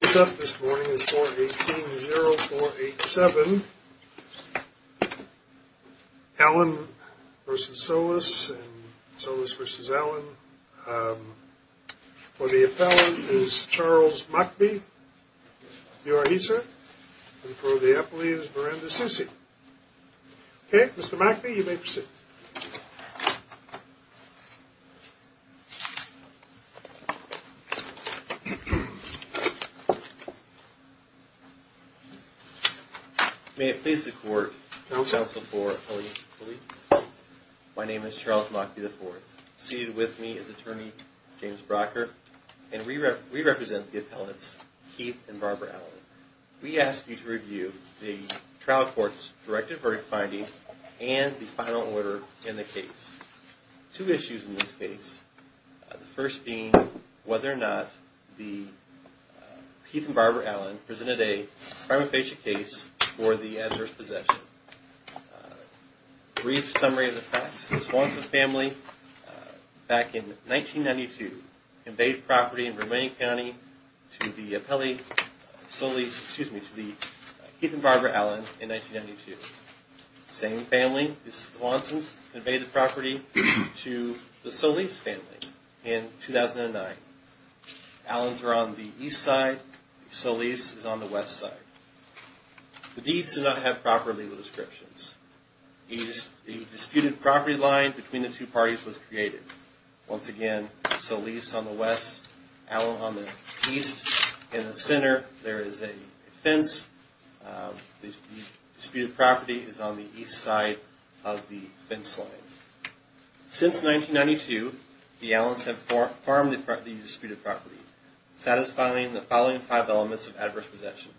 This up this morning is 418-0487, Allen v. Solis and Solis v. Allen. For the appellant is Charles McBee. You are he, sir? And for the appellee is Miranda Susi. Okay, Mr. McBee, you may proceed. May it please the court, counsel for appellate police. My name is Charles McBee IV. Seated with me is attorney James Brocker. And we represent the appellants, Keith and Barbara Allen. We ask you to review the trial court's directive verdict finding and the final order in the case. Two issues in this case. The first being whether or not the Keith and Barbara Allen presented a crime of patient case for the adverse possession. Brief summary of the facts. The Swanson family back in 1992 conveyed property in Romanian County to the Keith and Barbara Allen in 1992. Same family, the Swansons, conveyed the property to the Solis family in 2009. Allens were on the east side. Solis is on the west side. The deeds do not have proper legal descriptions. The disputed property line between the two parties was created. Once again, Solis on the west, Allen on the east. In the center, there is a fence. The disputed property is on the east side of the fence line. Since 1992, the Allens have farmed the disputed property, satisfying the following five elements of adverse possession.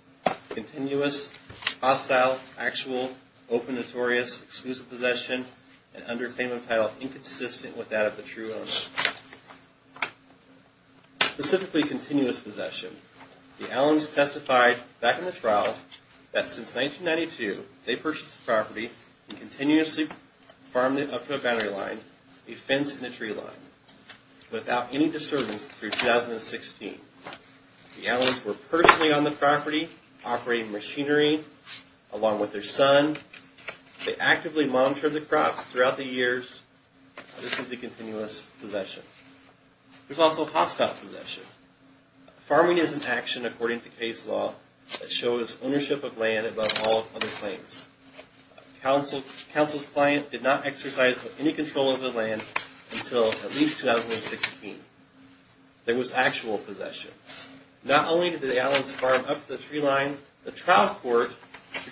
Continuous, hostile, actual, open, notorious, exclusive possession, and under a claim of title inconsistent with that of the true owner. Specifically, continuous possession. The Allens testified back in the trial that since 1992, they purchased the property and continuously farmed it up to a boundary line, a fence and a tree line, without any disturbance through 2016. The Allens were personally on the property, operating machinery, along with their son. They actively monitored the crops throughout the years. This is the continuous possession. There's also hostile possession. Farming is an action, according to case law, that shows ownership of land above all other claims. A council's client did not exercise any control of the land until at least 2016. There was actual possession. Not only did the Allens farm up to the tree line, the trial court,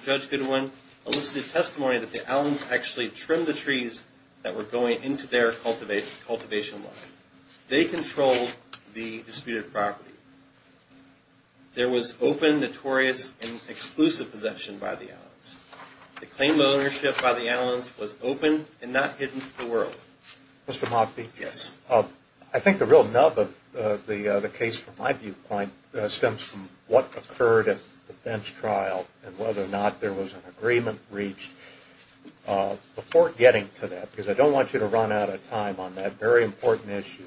Judge Goodwin, elicited testimony that the Allens actually trimmed the trees that were going into their cultivation line. They controlled the disputed property. There was open, notorious, and exclusive possession by the Allens. The claim of ownership by the Allens was open and not hidden from the world. Mr. Mockbee? Yes. I think the real nub of the case, from my viewpoint, stems from what occurred at the bench trial and whether or not there was an agreement reached. Before getting to that, because I don't want you to run out of time on that very important issue,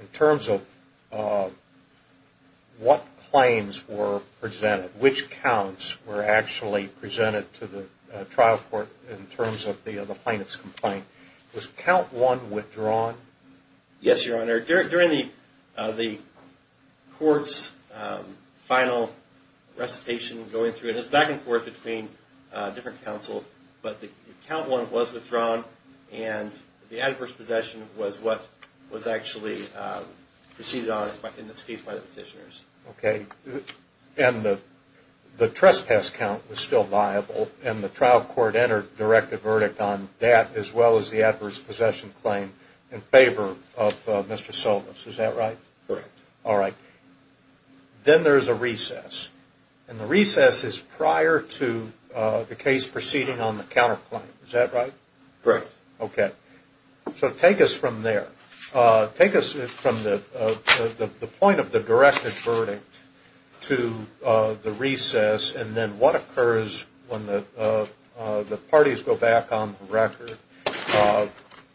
in terms of what claims were presented, which counts were actually presented to the trial court in terms of the plaintiff's complaint, was count one withdrawn? Yes, Your Honor. During the court's final recitation going through, it was back and forth between different councils, but the count one was withdrawn, and the adverse possession was what was actually proceeded on in this case by the petitioners. Okay. And the trespass count was still viable, and the trial court entered a directed verdict on that as well as the adverse possession claim in favor of Mr. Solis. Is that right? Correct. All right. Then there's a recess, and the recess is prior to the case proceeding on the counterclaim. Is that right? Correct. Okay. So take us from there. Take us from the point of the directed verdict to the recess, and then what occurs when the parties go back on the record?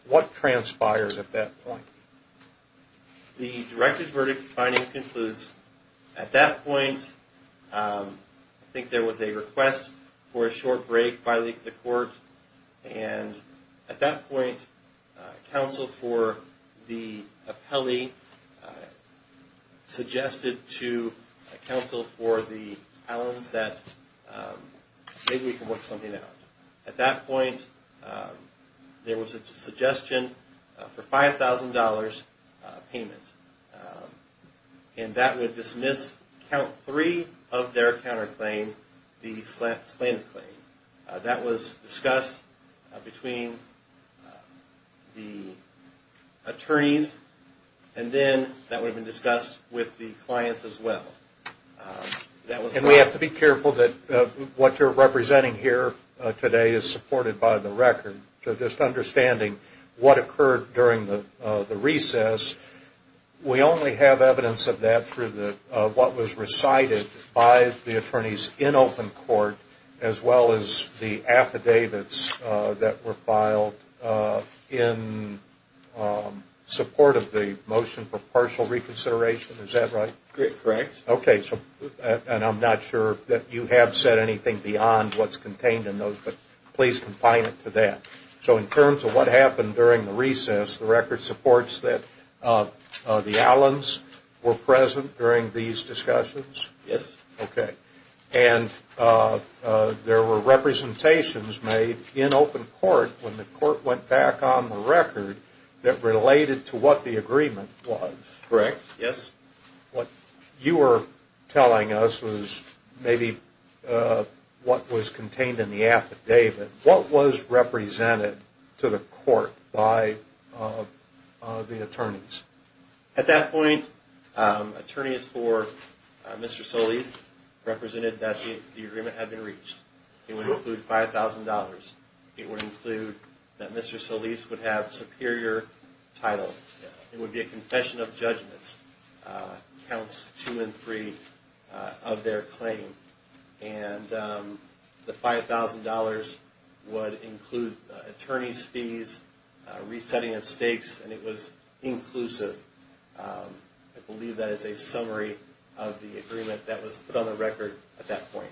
What transpires at that point? The directed verdict finding concludes at that point, I think there was a request for a short break by the court, and at that point, counsel for the appellee suggested to counsel for the Allens that maybe we can work something out. At that point, there was a suggestion for $5,000 payment, and that would dismiss count three of their counterclaim, the slanted claim. That was discussed between the attorneys, and then that would have been discussed with the clients as well. And we have to be careful that what you're representing here today is supported by the record. So just understanding what occurred during the recess, we only have evidence of that through what was recited by the attorneys in open court as well as the affidavits that were filed in support of the motion for partial reconsideration. Is that right? Correct. Okay. And I'm not sure that you have said anything beyond what's contained in those, but please confine it to that. So in terms of what happened during the recess, the record supports that the Allens were present during these discussions? Yes. Okay. And there were representations made in open court when the court went back on the record that related to what the agreement was? Correct. Yes. What you were telling us was maybe what was contained in the affidavit. What was represented to the court by the attorneys? At that point, attorneys for Mr. Solis represented that the agreement had been reached. It would include $5,000. It would include that Mr. Solis would have superior title. It would be a confession of judgments, counts two and three of their claim. And the $5,000 would include attorney's fees, resetting of stakes, and it was inclusive. I believe that is a summary of the agreement that was put on the record at that point.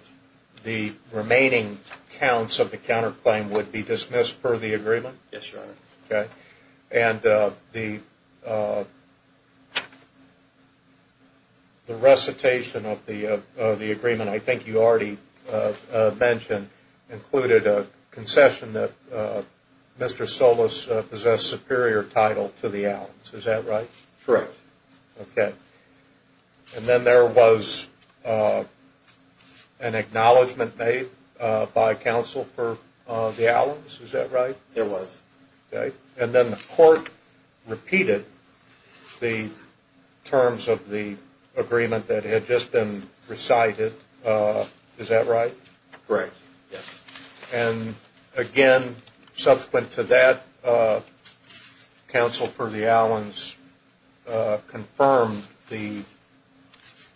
The remaining counts of the counterclaim would be dismissed per the agreement? Yes, Your Honor. Okay. And the recitation of the agreement I think you already mentioned included a concession that Mr. Solis possessed superior title to the Allens. Is that right? Correct. Okay. And then there was an acknowledgment made by counsel for the Allens. Is that right? There was. Okay. And then the court repeated the terms of the agreement that had just been recited. Is that right? Correct. Yes. And again, subsequent to that, counsel for the Allens confirmed the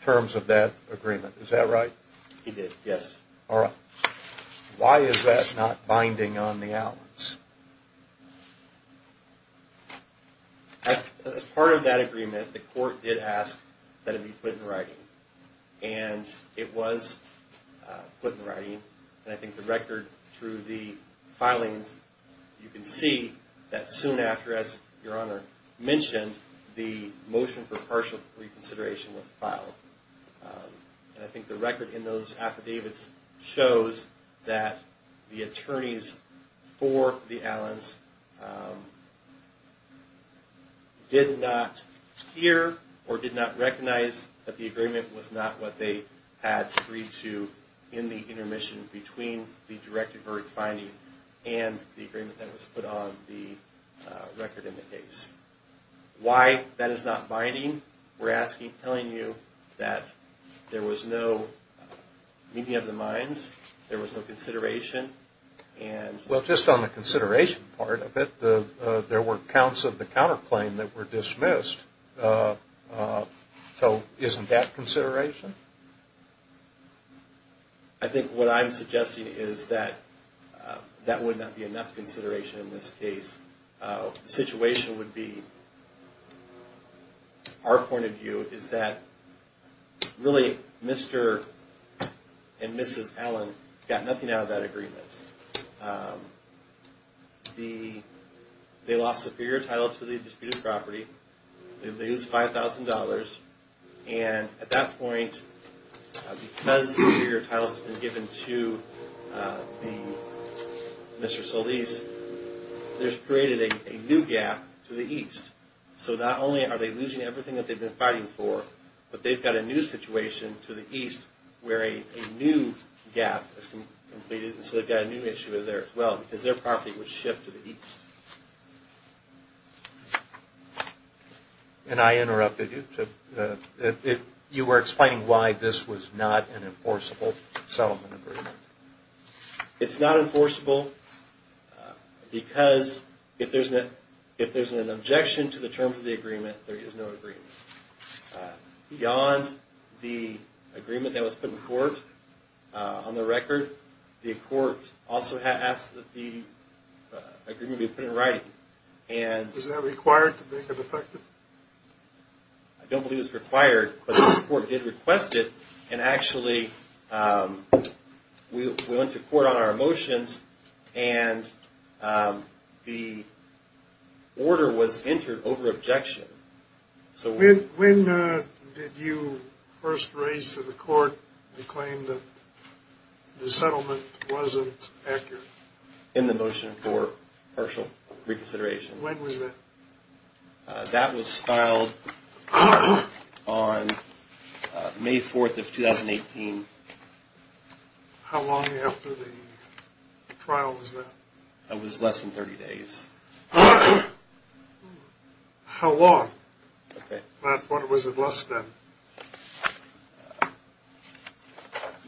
terms of that agreement. Is that right? He did, yes. All right. Why is that not binding on the Allens? As part of that agreement, the court did ask that it be put in writing. And it was put in writing. And I think the record through the filings, you can see that soon after, as Your Honor mentioned, the motion for partial reconsideration was filed. And I think the record in those affidavits shows that the attorneys for the Allens did not hear or did not recognize that the agreement was not what they had agreed to in the intermission between the Direct Avert Binding and the agreement that was put on the record in the case. Why that is not binding? We're asking, telling you that there was no meeting of the minds. There was no consideration. Well, just on the consideration part of it, there were counts of the counterclaim that were dismissed. So isn't that consideration? I think what I'm suggesting is that that would not be enough consideration in this case. The situation would be, our point of view, is that really Mr. and Mrs. Allen got nothing out of that agreement. They lost superior title to the disputed property. They lose $5,000. And at that point, because superior title has been given to Mr. Solis, there's created a new gap to the east. So not only are they losing everything that they've been fighting for, but they've got a new situation to the east where a new gap has been completed. And so they've got a new issue there as well, because their property was shipped to the east. And I interrupted you. You were explaining why this was not an enforceable settlement agreement. It's not enforceable because if there's an objection to the terms of the agreement, there is no agreement. Beyond the agreement that was put in court, on the record, the court also asked that the agreement be put in writing. Is that required to make it effective? I don't believe it's required, but the court did request it. And actually, we went to court on our motions, and the order was entered over objection. When did you first raise to the court the claim that the settlement wasn't accurate? In the motion for partial reconsideration. When was that? That was filed on May 4th of 2018. How long after the trial was that? It was less than 30 days. How long? What was it less than?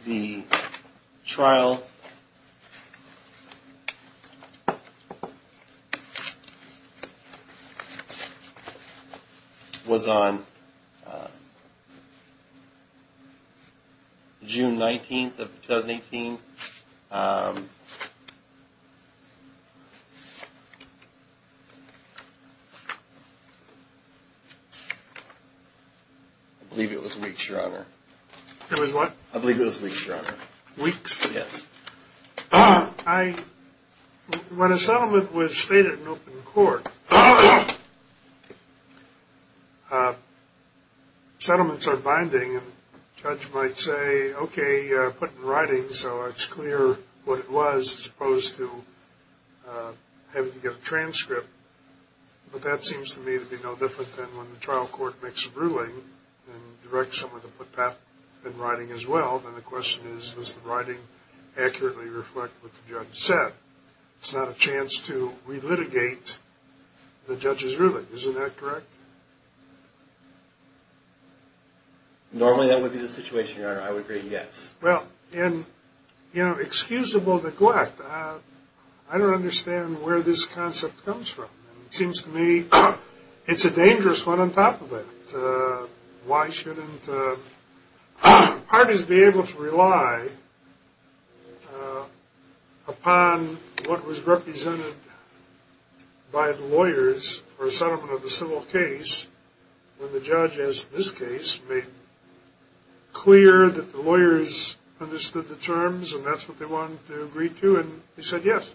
The trial was on June 19th of 2018. I believe it was weeks, Your Honor. It was what? I believe it was weeks, Your Honor. Weeks? Yes. When a settlement was stated in open court, settlements are binding. A judge might say, okay, put it in writing so it's clear what it was as opposed to having to get a transcript. But that seems to me to be no different than when the trial court makes a ruling and directs someone to put that in writing as well. And the question is, does the writing accurately reflect what the judge said? It's not a chance to relitigate the judge's ruling. Isn't that correct? Normally, that would be the situation, Your Honor. I would agree, yes. Well, in excusable neglect, I don't understand where this concept comes from. It seems to me it's a dangerous one on top of it. Why shouldn't parties be able to rely upon what was represented by the lawyers for a settlement of a civil case when the judge in this case made clear that the lawyers understood the terms and that's what they wanted to agree to, and they said yes.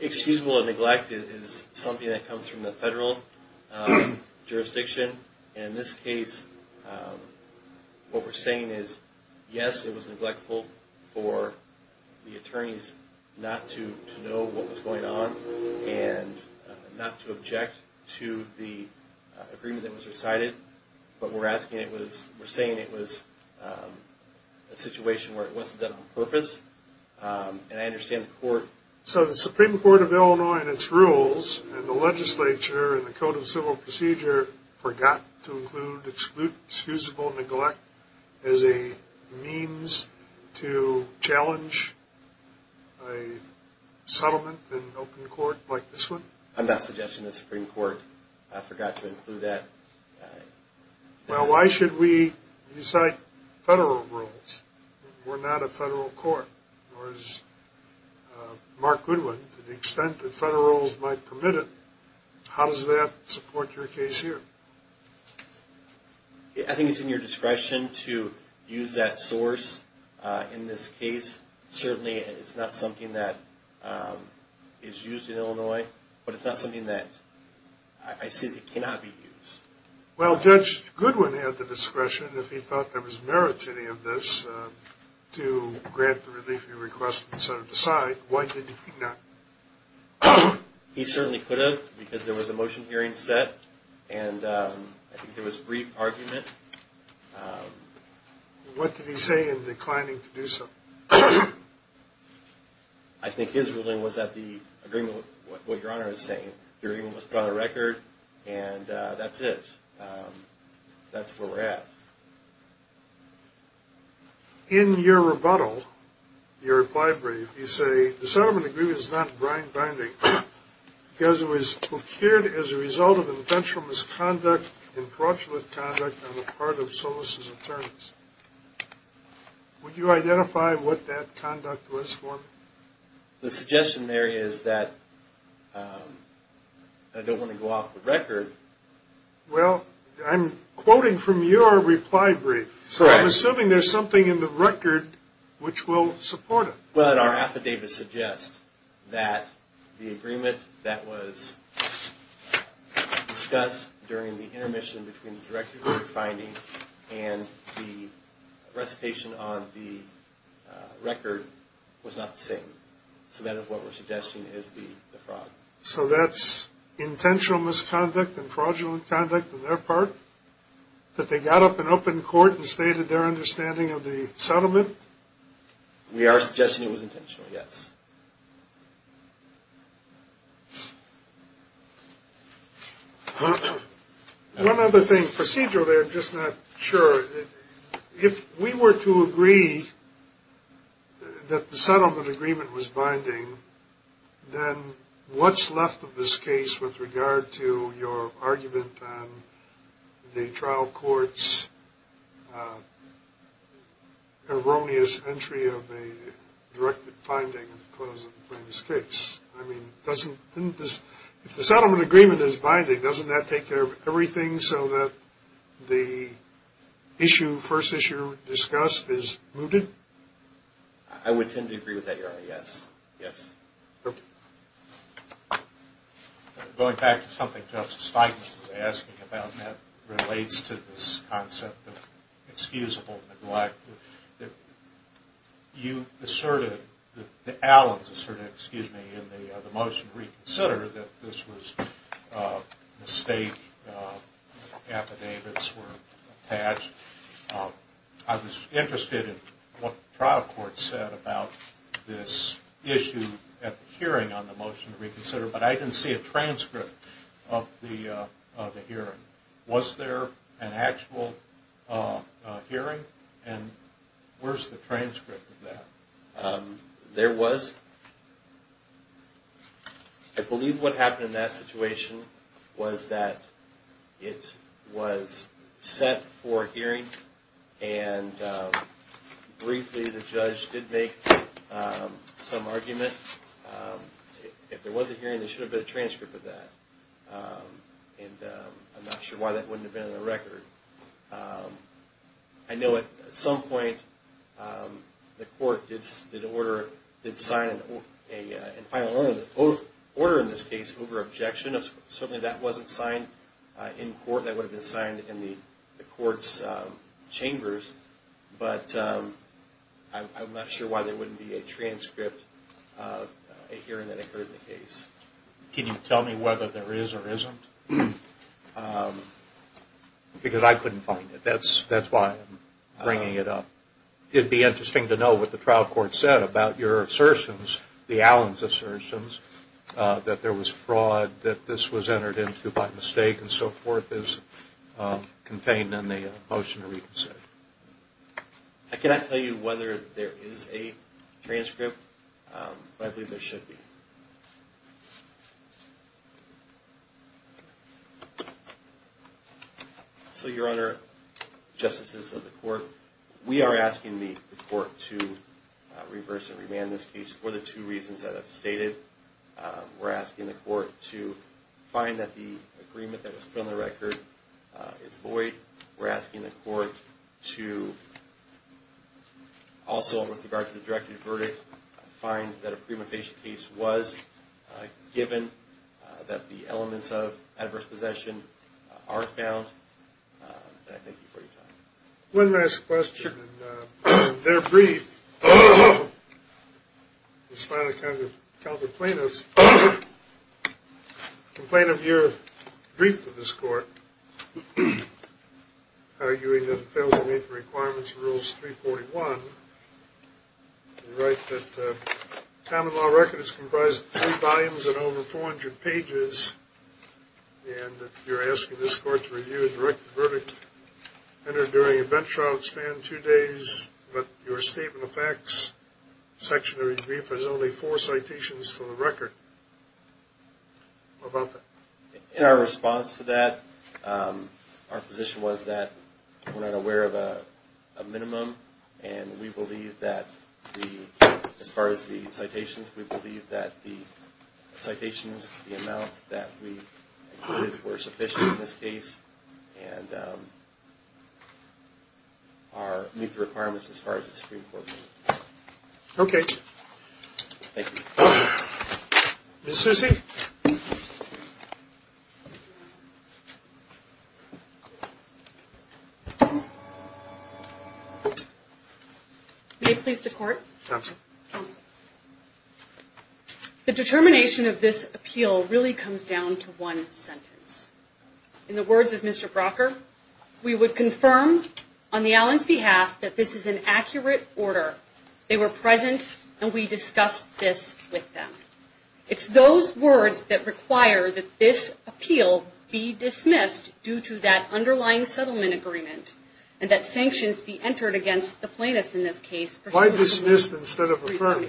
Excusable neglect is something that comes from the federal jurisdiction. In this case, what we're saying is, yes, it was neglectful for the attorneys not to know what was going on and not to object to the agreement that was recited. But we're saying it was a situation where it wasn't done on purpose. And I understand the court... So the Supreme Court of Illinois and its rules and the legislature and the Code of Civil Procedure forgot to include excusable neglect as a means to challenge a settlement in open court like this one? I'm not suggesting the Supreme Court forgot to include that. Well, why should we recite federal rules? We're not a federal court. Mark Goodwin, to the extent that federal rules might permit it, how does that support your case here? I think it's in your discretion to use that source in this case. Certainly, it's not something that is used in Illinois, but it's not something that I see that cannot be used. Well, Judge Goodwin had the discretion, if he thought there was merit to any of this, to grant the relief he requested instead of decide. Why did he not? He certainly could have because there was a motion hearing set and I think there was brief argument. What did he say in declining to do so? I think his ruling was that the agreement with what Your Honor is saying, the agreement was put on the record and that's it. That's where we're at. In your rebuttal, your reply brief, you say the settlement agreement is not blind-binding because it was procured as a result of intentional misconduct and fraudulent conduct on the part of Solis' attorneys. Would you identify what that conduct was for me? The suggestion there is that I don't want to go off the record. Well, I'm quoting from your reply brief, so I'm assuming there's something in the record which will support it. Well, our affidavits suggest that the agreement that was discussed during the intermission between the director of the finding and the recitation on the record was not the same. So that is what we're suggesting is the fraud. So that's intentional misconduct and fraudulent conduct on their part? That they got up and up in court and stated their understanding of the settlement? We are suggesting it was intentional, yes. One other thing. Procedurally, I'm just not sure. If we were to agree that the settlement agreement was binding, then what's left of this case with regard to your argument on the trial court's erroneous entry of a directed finding? If the settlement agreement is binding, doesn't that take care of everything so that the first issue discussed is mooted? I would tend to agree with that, Your Honor, yes. Going back to something Justice Feigman was asking about that relates to this concept of excusable neglect. You asserted, the Allens asserted, excuse me, in the motion to reconsider that this was a mistake, affidavits were attached. I was interested in what the trial court said about this issue at the hearing on the motion to reconsider, but I didn't see a transcript of the hearing. Was there an actual hearing, and where's the transcript of that? There was. I believe what happened in that situation was that it was set for a hearing, and briefly the judge did make some argument. If there was a hearing, there should have been a transcript of that. I'm not sure why that wouldn't have been in the record. I know at some point the court did sign an order in this case over objection. Certainly that wasn't signed in court, that would have been signed in the court's chambers, but I'm not sure why there wouldn't be a transcript of a hearing that occurred in the case. Can you tell me whether there is or isn't? Because I couldn't find it, that's why I'm bringing it up. It would be interesting to know what the trial court said about your assertions, the Allens assertions, that there was fraud, that this was entered into by mistake and so forth as contained in the motion to reconsider. I cannot tell you whether there is a transcript, but I believe there should be. So your honor, justices of the court, we are asking the court to reverse and remand this case for the two reasons that I've stated. We're asking the court to find that the agreement that was put on the record is void. We're asking the court to also, with regard to the directive verdict, find that a premonition case was given, that the elements of adverse possession are found, and I thank you for your time. One last question, and then I'll be brief. In spite of counter-plaintiffs' complaint of your brief to this court, arguing that it fails to meet the requirements of Rules 341, you write that the common law record is comprised of three volumes and over 400 pages, and that you're asking this court to review and direct the verdict entered during a bench trial that spanned two days, but your statement of facts section of your brief has only four citations to the record. What about that? In our response to that, our position was that we're not aware of a minimum, and we believe that, as far as the citations, we believe that the citations, the amount that we included were sufficient in this case, and meet the requirements as far as the Supreme Court. Okay. Thank you. Ms. Susi? May it please the Court? Counsel. Counsel. The determination of this appeal really comes down to one sentence. In the words of Mr. Brocker, we would confirm on the Allens' behalf that this is an accurate order. They were present, and we discussed this with them. It's those words that require that this appeal be dismissed due to that underlying settlement agreement, and that sanctions be entered against the plaintiffs in this case. Why dismissed instead of affirmed?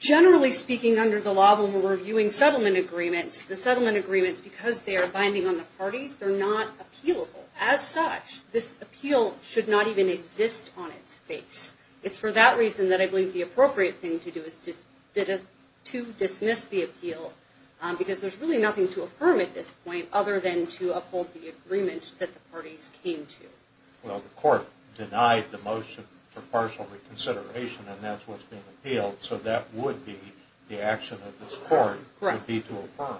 Generally speaking, under the law, when we're reviewing settlement agreements, the settlement agreements, because they are binding on the parties, they're not appealable. As such, this appeal should not even exist on its face. It's for that reason that I believe the appropriate thing to do is to dismiss the appeal, because there's really nothing to affirm at this point, other than to uphold the agreement that the parties came to. Well, the Court denied the motion for partial reconsideration, and that's what's being appealed, so that would be the action of this Court, would be to affirm.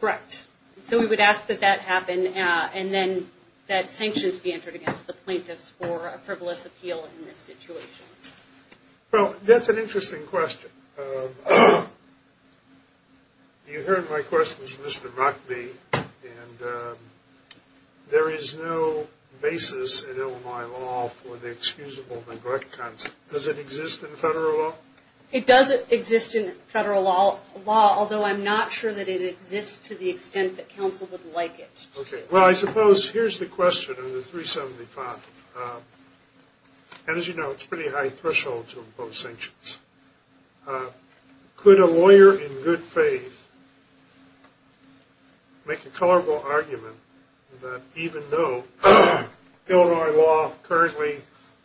Correct. So we would ask that that happen, and then that sanctions be entered against the plaintiffs for a frivolous appeal in this situation. Well, that's an interesting question. You heard my questions, Mr. Rockbee, and there is no basis in Illinois law for the excusable neglect concept. Does it exist in federal law? It doesn't exist in federal law, although I'm not sure that it exists to the extent that counsel would like it to. Well, I suppose, here's the question on the 375. As you know, it's a pretty high threshold to impose sanctions. Could a lawyer in good faith make a colorable argument that even though Illinois law currently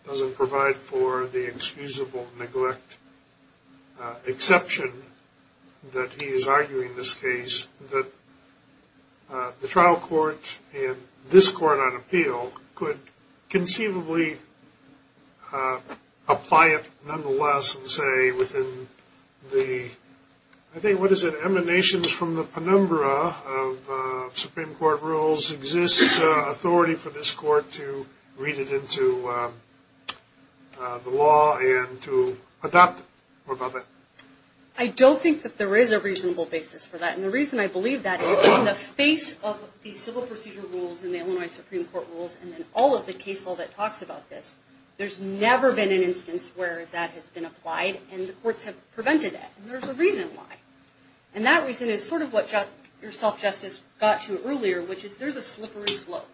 doesn't provide for the excusable neglect exception that he is arguing in this case, that the trial court and this court on appeal could conceivably apply it nonetheless and say within the, I think, what is it, emanations from the penumbra of Supreme Court rules, exists authority for this court to read it into the law and to adopt it. I don't think that there is a reasonable basis for that, and the reason I believe that is in the face of the civil procedure rules and the Illinois Supreme Court rules and all of the case law that talks about this, there's never been an instance where that has been applied and the courts have prevented it. And there's a reason why. And that reason is sort of what your self-justice got to earlier, which is there's a slippery slope.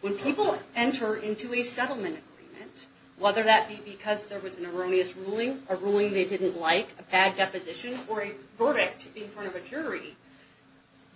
When people enter into a settlement agreement, whether that be because there was an erroneous ruling, a ruling they didn't like, a bad deposition, or a verdict in front of a jury,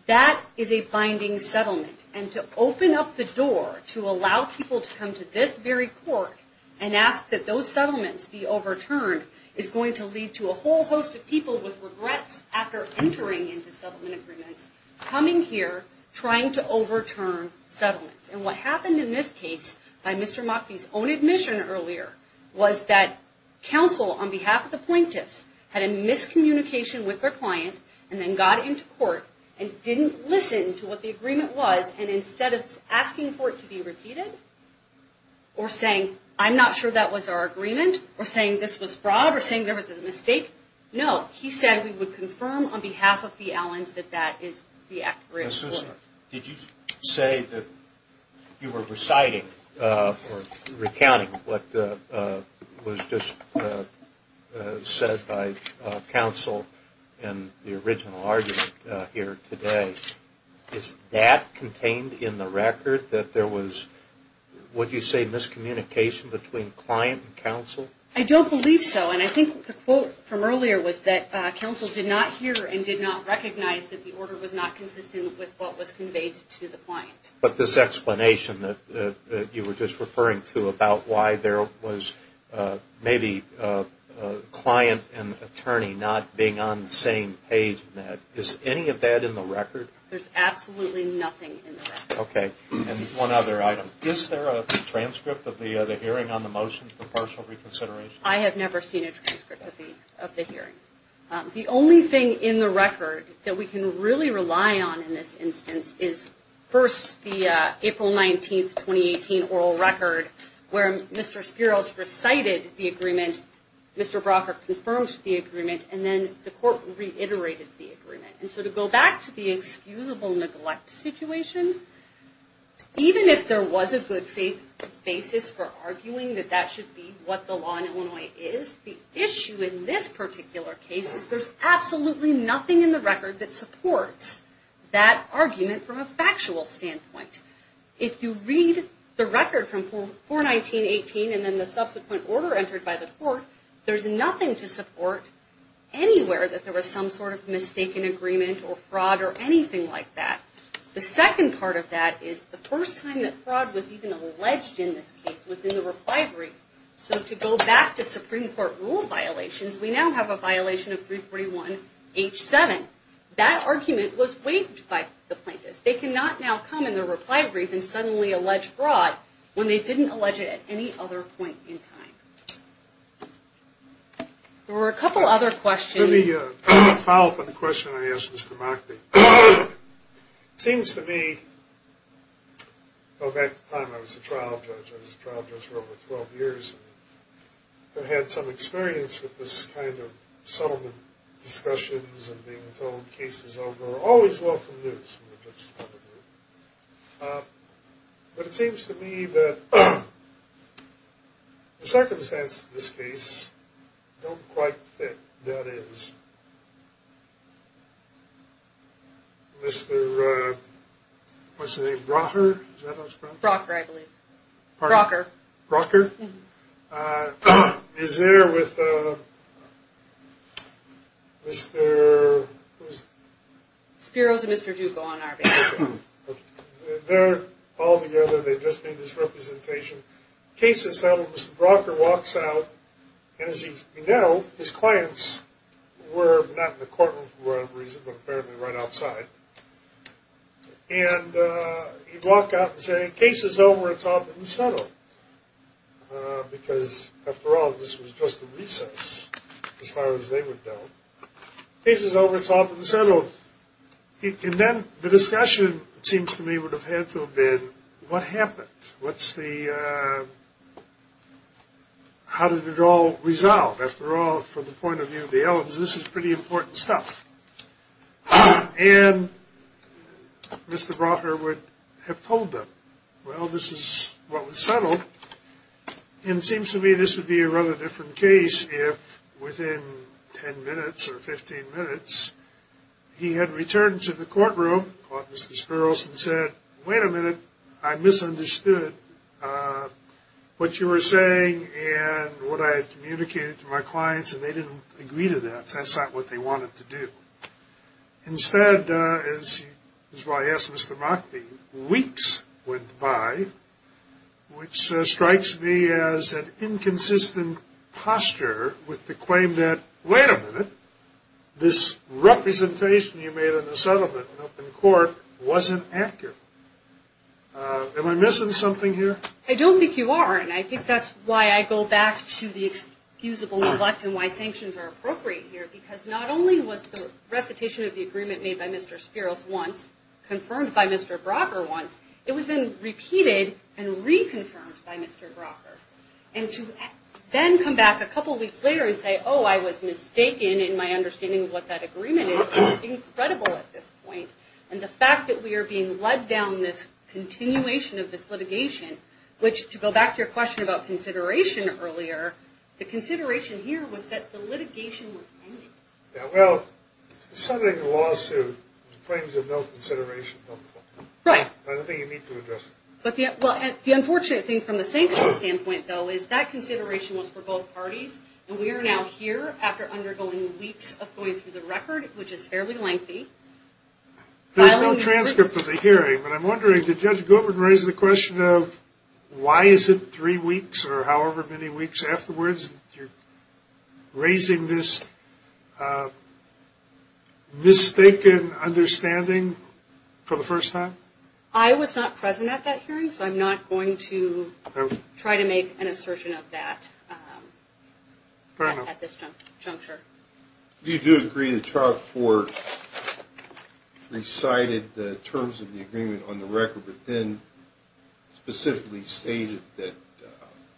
that is a binding settlement. And to open up the door to allow people to come to this very court and ask that those settlements be overturned is going to lead to a whole host of people with regrets after entering into settlement agreements, coming here, trying to overturn settlements. And what happened in this case by Mr. Mockfee's own admission earlier was that counsel, on behalf of the plaintiffs, had a miscommunication with their client, and then got into court and didn't listen to what the agreement was, and instead of asking for it to be repeated, or saying, I'm not sure that was our agreement, or saying this was fraud, or saying there was a mistake, no, he said we would confirm on behalf of the Allens that that is the accurate ruling. Did you say that you were reciting or recounting what was just said by counsel in the original argument here today? Is that contained in the record, that there was, would you say, miscommunication between client and counsel? I don't believe so, and I think the quote from earlier was that counsel did not hear and did not recognize that the order was not consistent with what was conveyed to the client. But this explanation that you were just referring to about why there was maybe a client and attorney not being on the same page in that, is any of that in the record? There's absolutely nothing in the record. And one other item. Is there a transcript of the hearing on the motion for partial reconsideration? I have never seen a transcript of the hearing. The only thing in the record that we can really rely on in this instance is first the April 19th, 2018 oral record where Mr. Spiros recited the agreement, Mr. Brockert confirms the agreement, and then the court reiterated the agreement. And so to go back to the excusable neglect situation, even if there was a good basis for arguing that that should be what the law in Illinois is, the issue in this particular case is there's absolutely nothing in the record that supports that argument from a factual standpoint. If you read the record from 4-19-18 and then the subsequent order entered by the court, there's nothing to support anywhere that there was some sort of mistaken agreement or fraud or anything like that. The second part of that is the first time that fraud was even alleged in this case was in the reply brief. So to go back to Supreme Court rule violations, we now have a violation of 341-H7. That argument was waived by the plaintiffs. They cannot now come in the reply brief and suddenly allege fraud when they didn't allege it at any other point in time. There were a couple other questions. Let me follow up on the question I asked Mr. Mockney. It seems to me, going back to the time I was a trial judge, I was a trial judge for over 12 years and had some experience with this kind of settlement discussions and being told the case is over. Always welcome news from the judge's point of view. But it seems to me that the circumstances of this case don't quite fit. That is, Mr. What's his name? Brocker? Is that how it's pronounced? Brocker, I believe. Brocker. Brocker? Is there with Mr. Spiros and Mr. Duca on our behalf. They're all together. They just made this representation. Case is settled. Mr. Brocker walks out and as you know, his clients were not in the courtroom for whatever reason, but apparently right outside. And he'd walk out and say, case is over, it's off and settled. Because, after all, this was just a recess as far as they would know. Case is over, it's off and settled. And then the discussion, it seems to me, would have had to have been what happened? What's the How did it all resolve? After all, from the point of view of the Ellens, this is pretty important stuff. And Mr. Brocker would have told them, well, this is what was settled. And it seems to me this would be a rather different case if within 10 minutes or 15 minutes, he had returned to the courtroom, caught Mr. Spiros and said, wait a minute, I misunderstood. I misunderstood what you were saying and what I had communicated to my clients, and they didn't agree to that. That's not what they wanted to do. Instead, as I asked Mr. Mockbee, weeks went by, which strikes me as an inconsistent posture with the claim that, wait a minute, this representation you made of the settlement up in court wasn't accurate. I don't think you are. And I think that's why I go back to the excusable neglect and why sanctions are appropriate here, because not only was the recitation of the agreement made by Mr. Spiros once confirmed by Mr. Brocker once, it was then repeated and reconfirmed by Mr. Brocker. And to then come back a couple weeks later and say, oh, I was mistaken in my understanding of what that agreement is, is incredible at this point. And the fact that we are being subjected to this agreement, which, to go back to your question about consideration earlier, the consideration here was that the litigation was pending. Yeah, well, somebody in the lawsuit claims of no consideration. Right. I don't think you need to address that. The unfortunate thing from the sanctions standpoint, though, is that consideration was for both parties, and we are now here after undergoing weeks of going through the record, which is fairly lengthy. There's no transcript for the hearing, but I'm wondering, did Judge Goodwin raise the question of why is it three weeks or however many weeks afterwards that you're raising this mistaken understanding for the first time? I was not present at that hearing, so I'm not going to try to make an assertion of that at this time. Junker? Do you agree that Charles Ford recited the terms of the agreement on the record, but then specifically stated that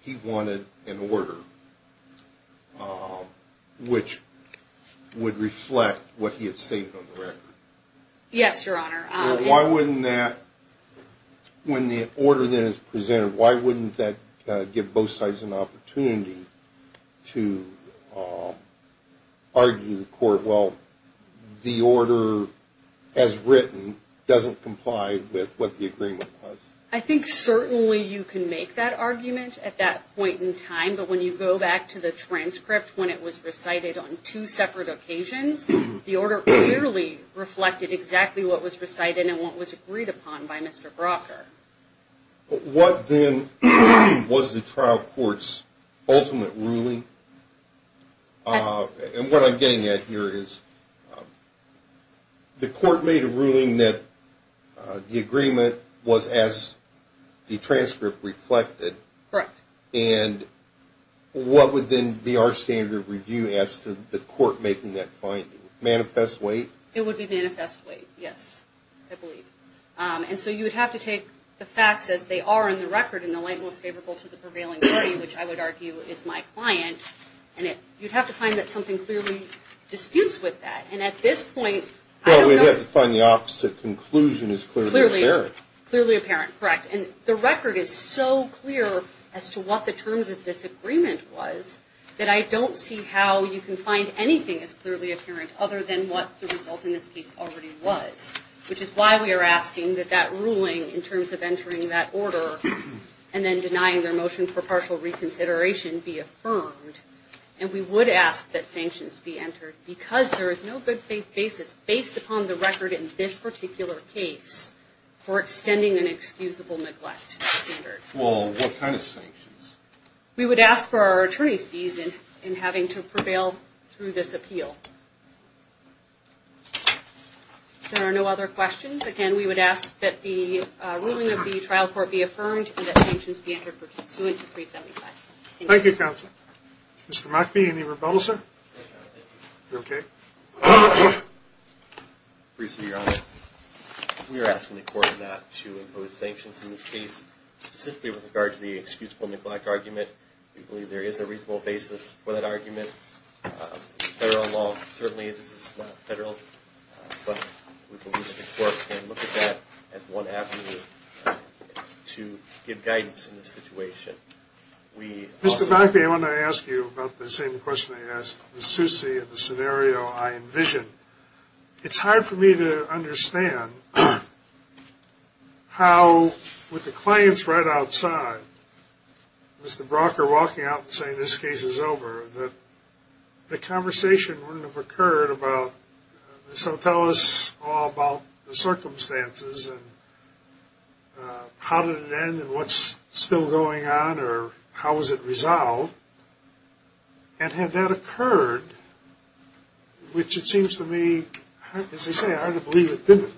he wanted an order which would reflect what he had stated on the record? Yes, Your Honor. Well, why wouldn't that, when the order then is presented, why wouldn't that give both sides an opportunity to argue the court, well, the order as written doesn't comply with what the agreement was? I think certainly you can make that argument at that point in time, but when you go back to the transcript when it was recited on two separate occasions, the order clearly reflected exactly what was recited and what was agreed upon by Mr. Brocker. Was there an ultimate ruling? And what I'm getting at here is the court made a ruling that the agreement was as the transcript reflected. Correct. And what would then be our standard of review as to the court making that finding? Manifest weight? It would be manifest weight, yes, I believe. And so you would have to take the facts as they are in the record in the light most favorable to the prevailing body, which I would argue is my client, and you'd have to find that something clearly disputes with that. And at this point, Well, we'd have to find the opposite conclusion as clearly apparent. Clearly apparent, correct. And the record is so clear as to what the terms of this agreement was that I don't see how you can find anything in the record of entering that order and then denying their motion for partial reconsideration be affirmed. And we would ask that sanctions be entered because there is no good faith basis based upon the record in this particular case for extending an excusable neglect standard. Well, what kind of sanctions? We would ask for our attorneys' fees in having to prevail through this appeal. There are no other questions. Again, we would ask that the trial court be affirmed and that sanctions be entered pursuant to 375. Thank you, counsel. Mr. Mockbee, any rebuttal, sir? Okay. Your Honor, we are asking the court not to impose sanctions in this case, specifically with regard to the excusable neglect argument. We believe there is a reasonable basis for that argument. Federal law, certainly, this is not federal, to give guidance in this situation. We also... Mr. Mockbee, I want to ask you about the same question I asked Ms. Susi in the scenario I envisioned. It's hard for me to understand how, with the claims right outside, Mr. Brocker walking out and saying this case is over, that the conversation wouldn't have occurred about this will tell us all about the circumstances and how did it end and what's still going on or how was it resolved and had that occurred, which it seems to me, as I say, I hardly believe it didn't.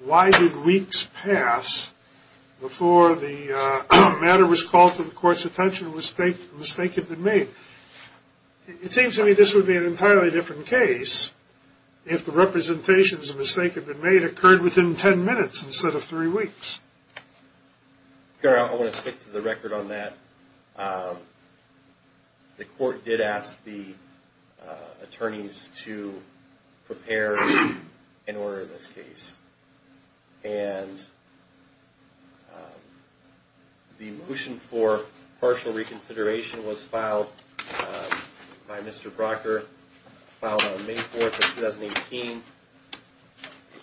Why did weeks pass before the matter was called to the court's attention and the mistake had been made? It seems to me this would be an entirely different case if the representations of the mistake had been made occurred within 10 minutes instead of three weeks. I want to stick to the record on that. The court did ask the attorneys to prepare in order this case and the motion for partial reconsideration was filed by Mr. Brocker on May 4th of 2018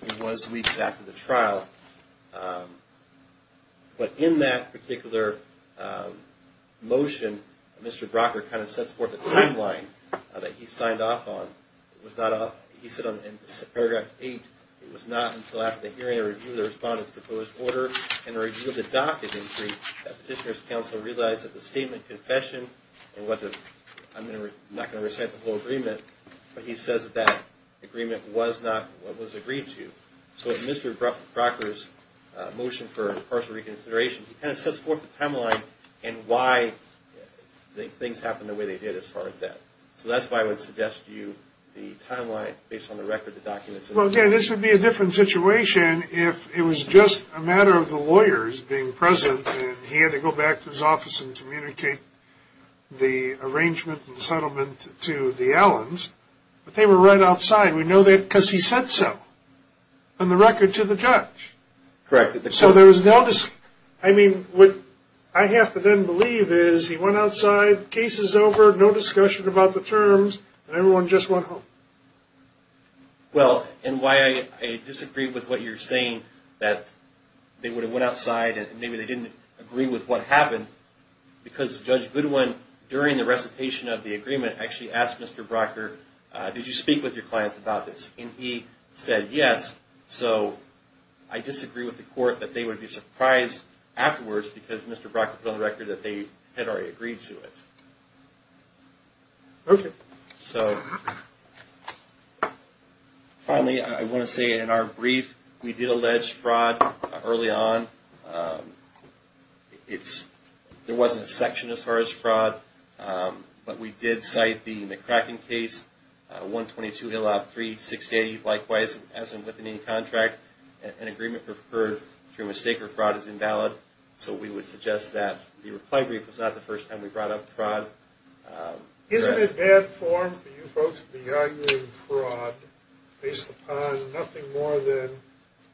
which was weeks after the trial. But in that particular motion, Mr. Brocker kind of sets forth a timeline that he signed off on. He said in paragraph 8, it was not until after the hearing and review of the respondent's proposed order and review of the docket that petitioner's counsel realized that the statement and confession and what the I'm not going to recite the whole agreement but he says that that agreement was not what was agreed to. So if Mr. Brocker's motion for partial reconsideration kind of sets forth the timeline and why things happened the way they did as far as that. So that's why I would suggest to you the timeline based on the record, the documents. Well, again, this would be a different situation if it was just a matter of the lawyers being present and he had to go back to his office and communicate the arrangement and settlement to the Allens. But they were right outside. We know that because he said so on the record to the judge. Correct. So there was no I mean, what I have to then believe is he went outside, case is over, no discussion about the terms and everyone just went home. Well, and why I disagree with what you're saying that they would have went outside and maybe they didn't agree with what happened because Judge Goodwin during the recitation of the agreement actually asked Mr. Brocker, did you speak with your clients about this? And he said yes. So I disagree with the court that they would be surprised afterwards because Mr. Brocker put on the record that they had already agreed to it. Okay. So finally, I want to say in our brief, we did allege fraud early on. It's there wasn't a section as far as fraud but we did cite the McCracken case 122 Hillop 360 likewise as and within any contract an agreement occurred through mistake or fraud is invalid so we would suggest that the reply brief was not the first time we brought up fraud. Isn't it bad form for you folks to be arguing fraud based upon nothing more than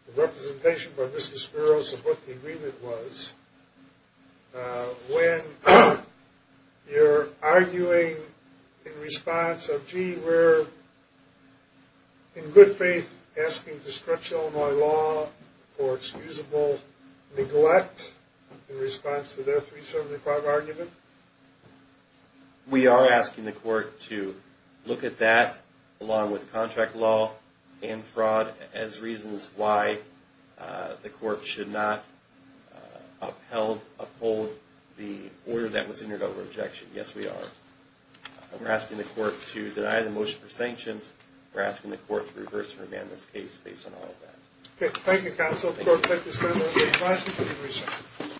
the representation by Mr. Spiros of what the agreement was when you're arguing in response of gee we're in good faith asking to stretch Illinois law for excusable neglect in response to their 375 argument? We are asking the court to look at that along with contract law and fraud as reasons why the court should not upheld uphold the order that was entered over objection. Yes we are. We're asking the court to deny the motion for sanctions we're asking the court to reverse and remand this case based on all of that. Thank you counsel. Court is adjourned.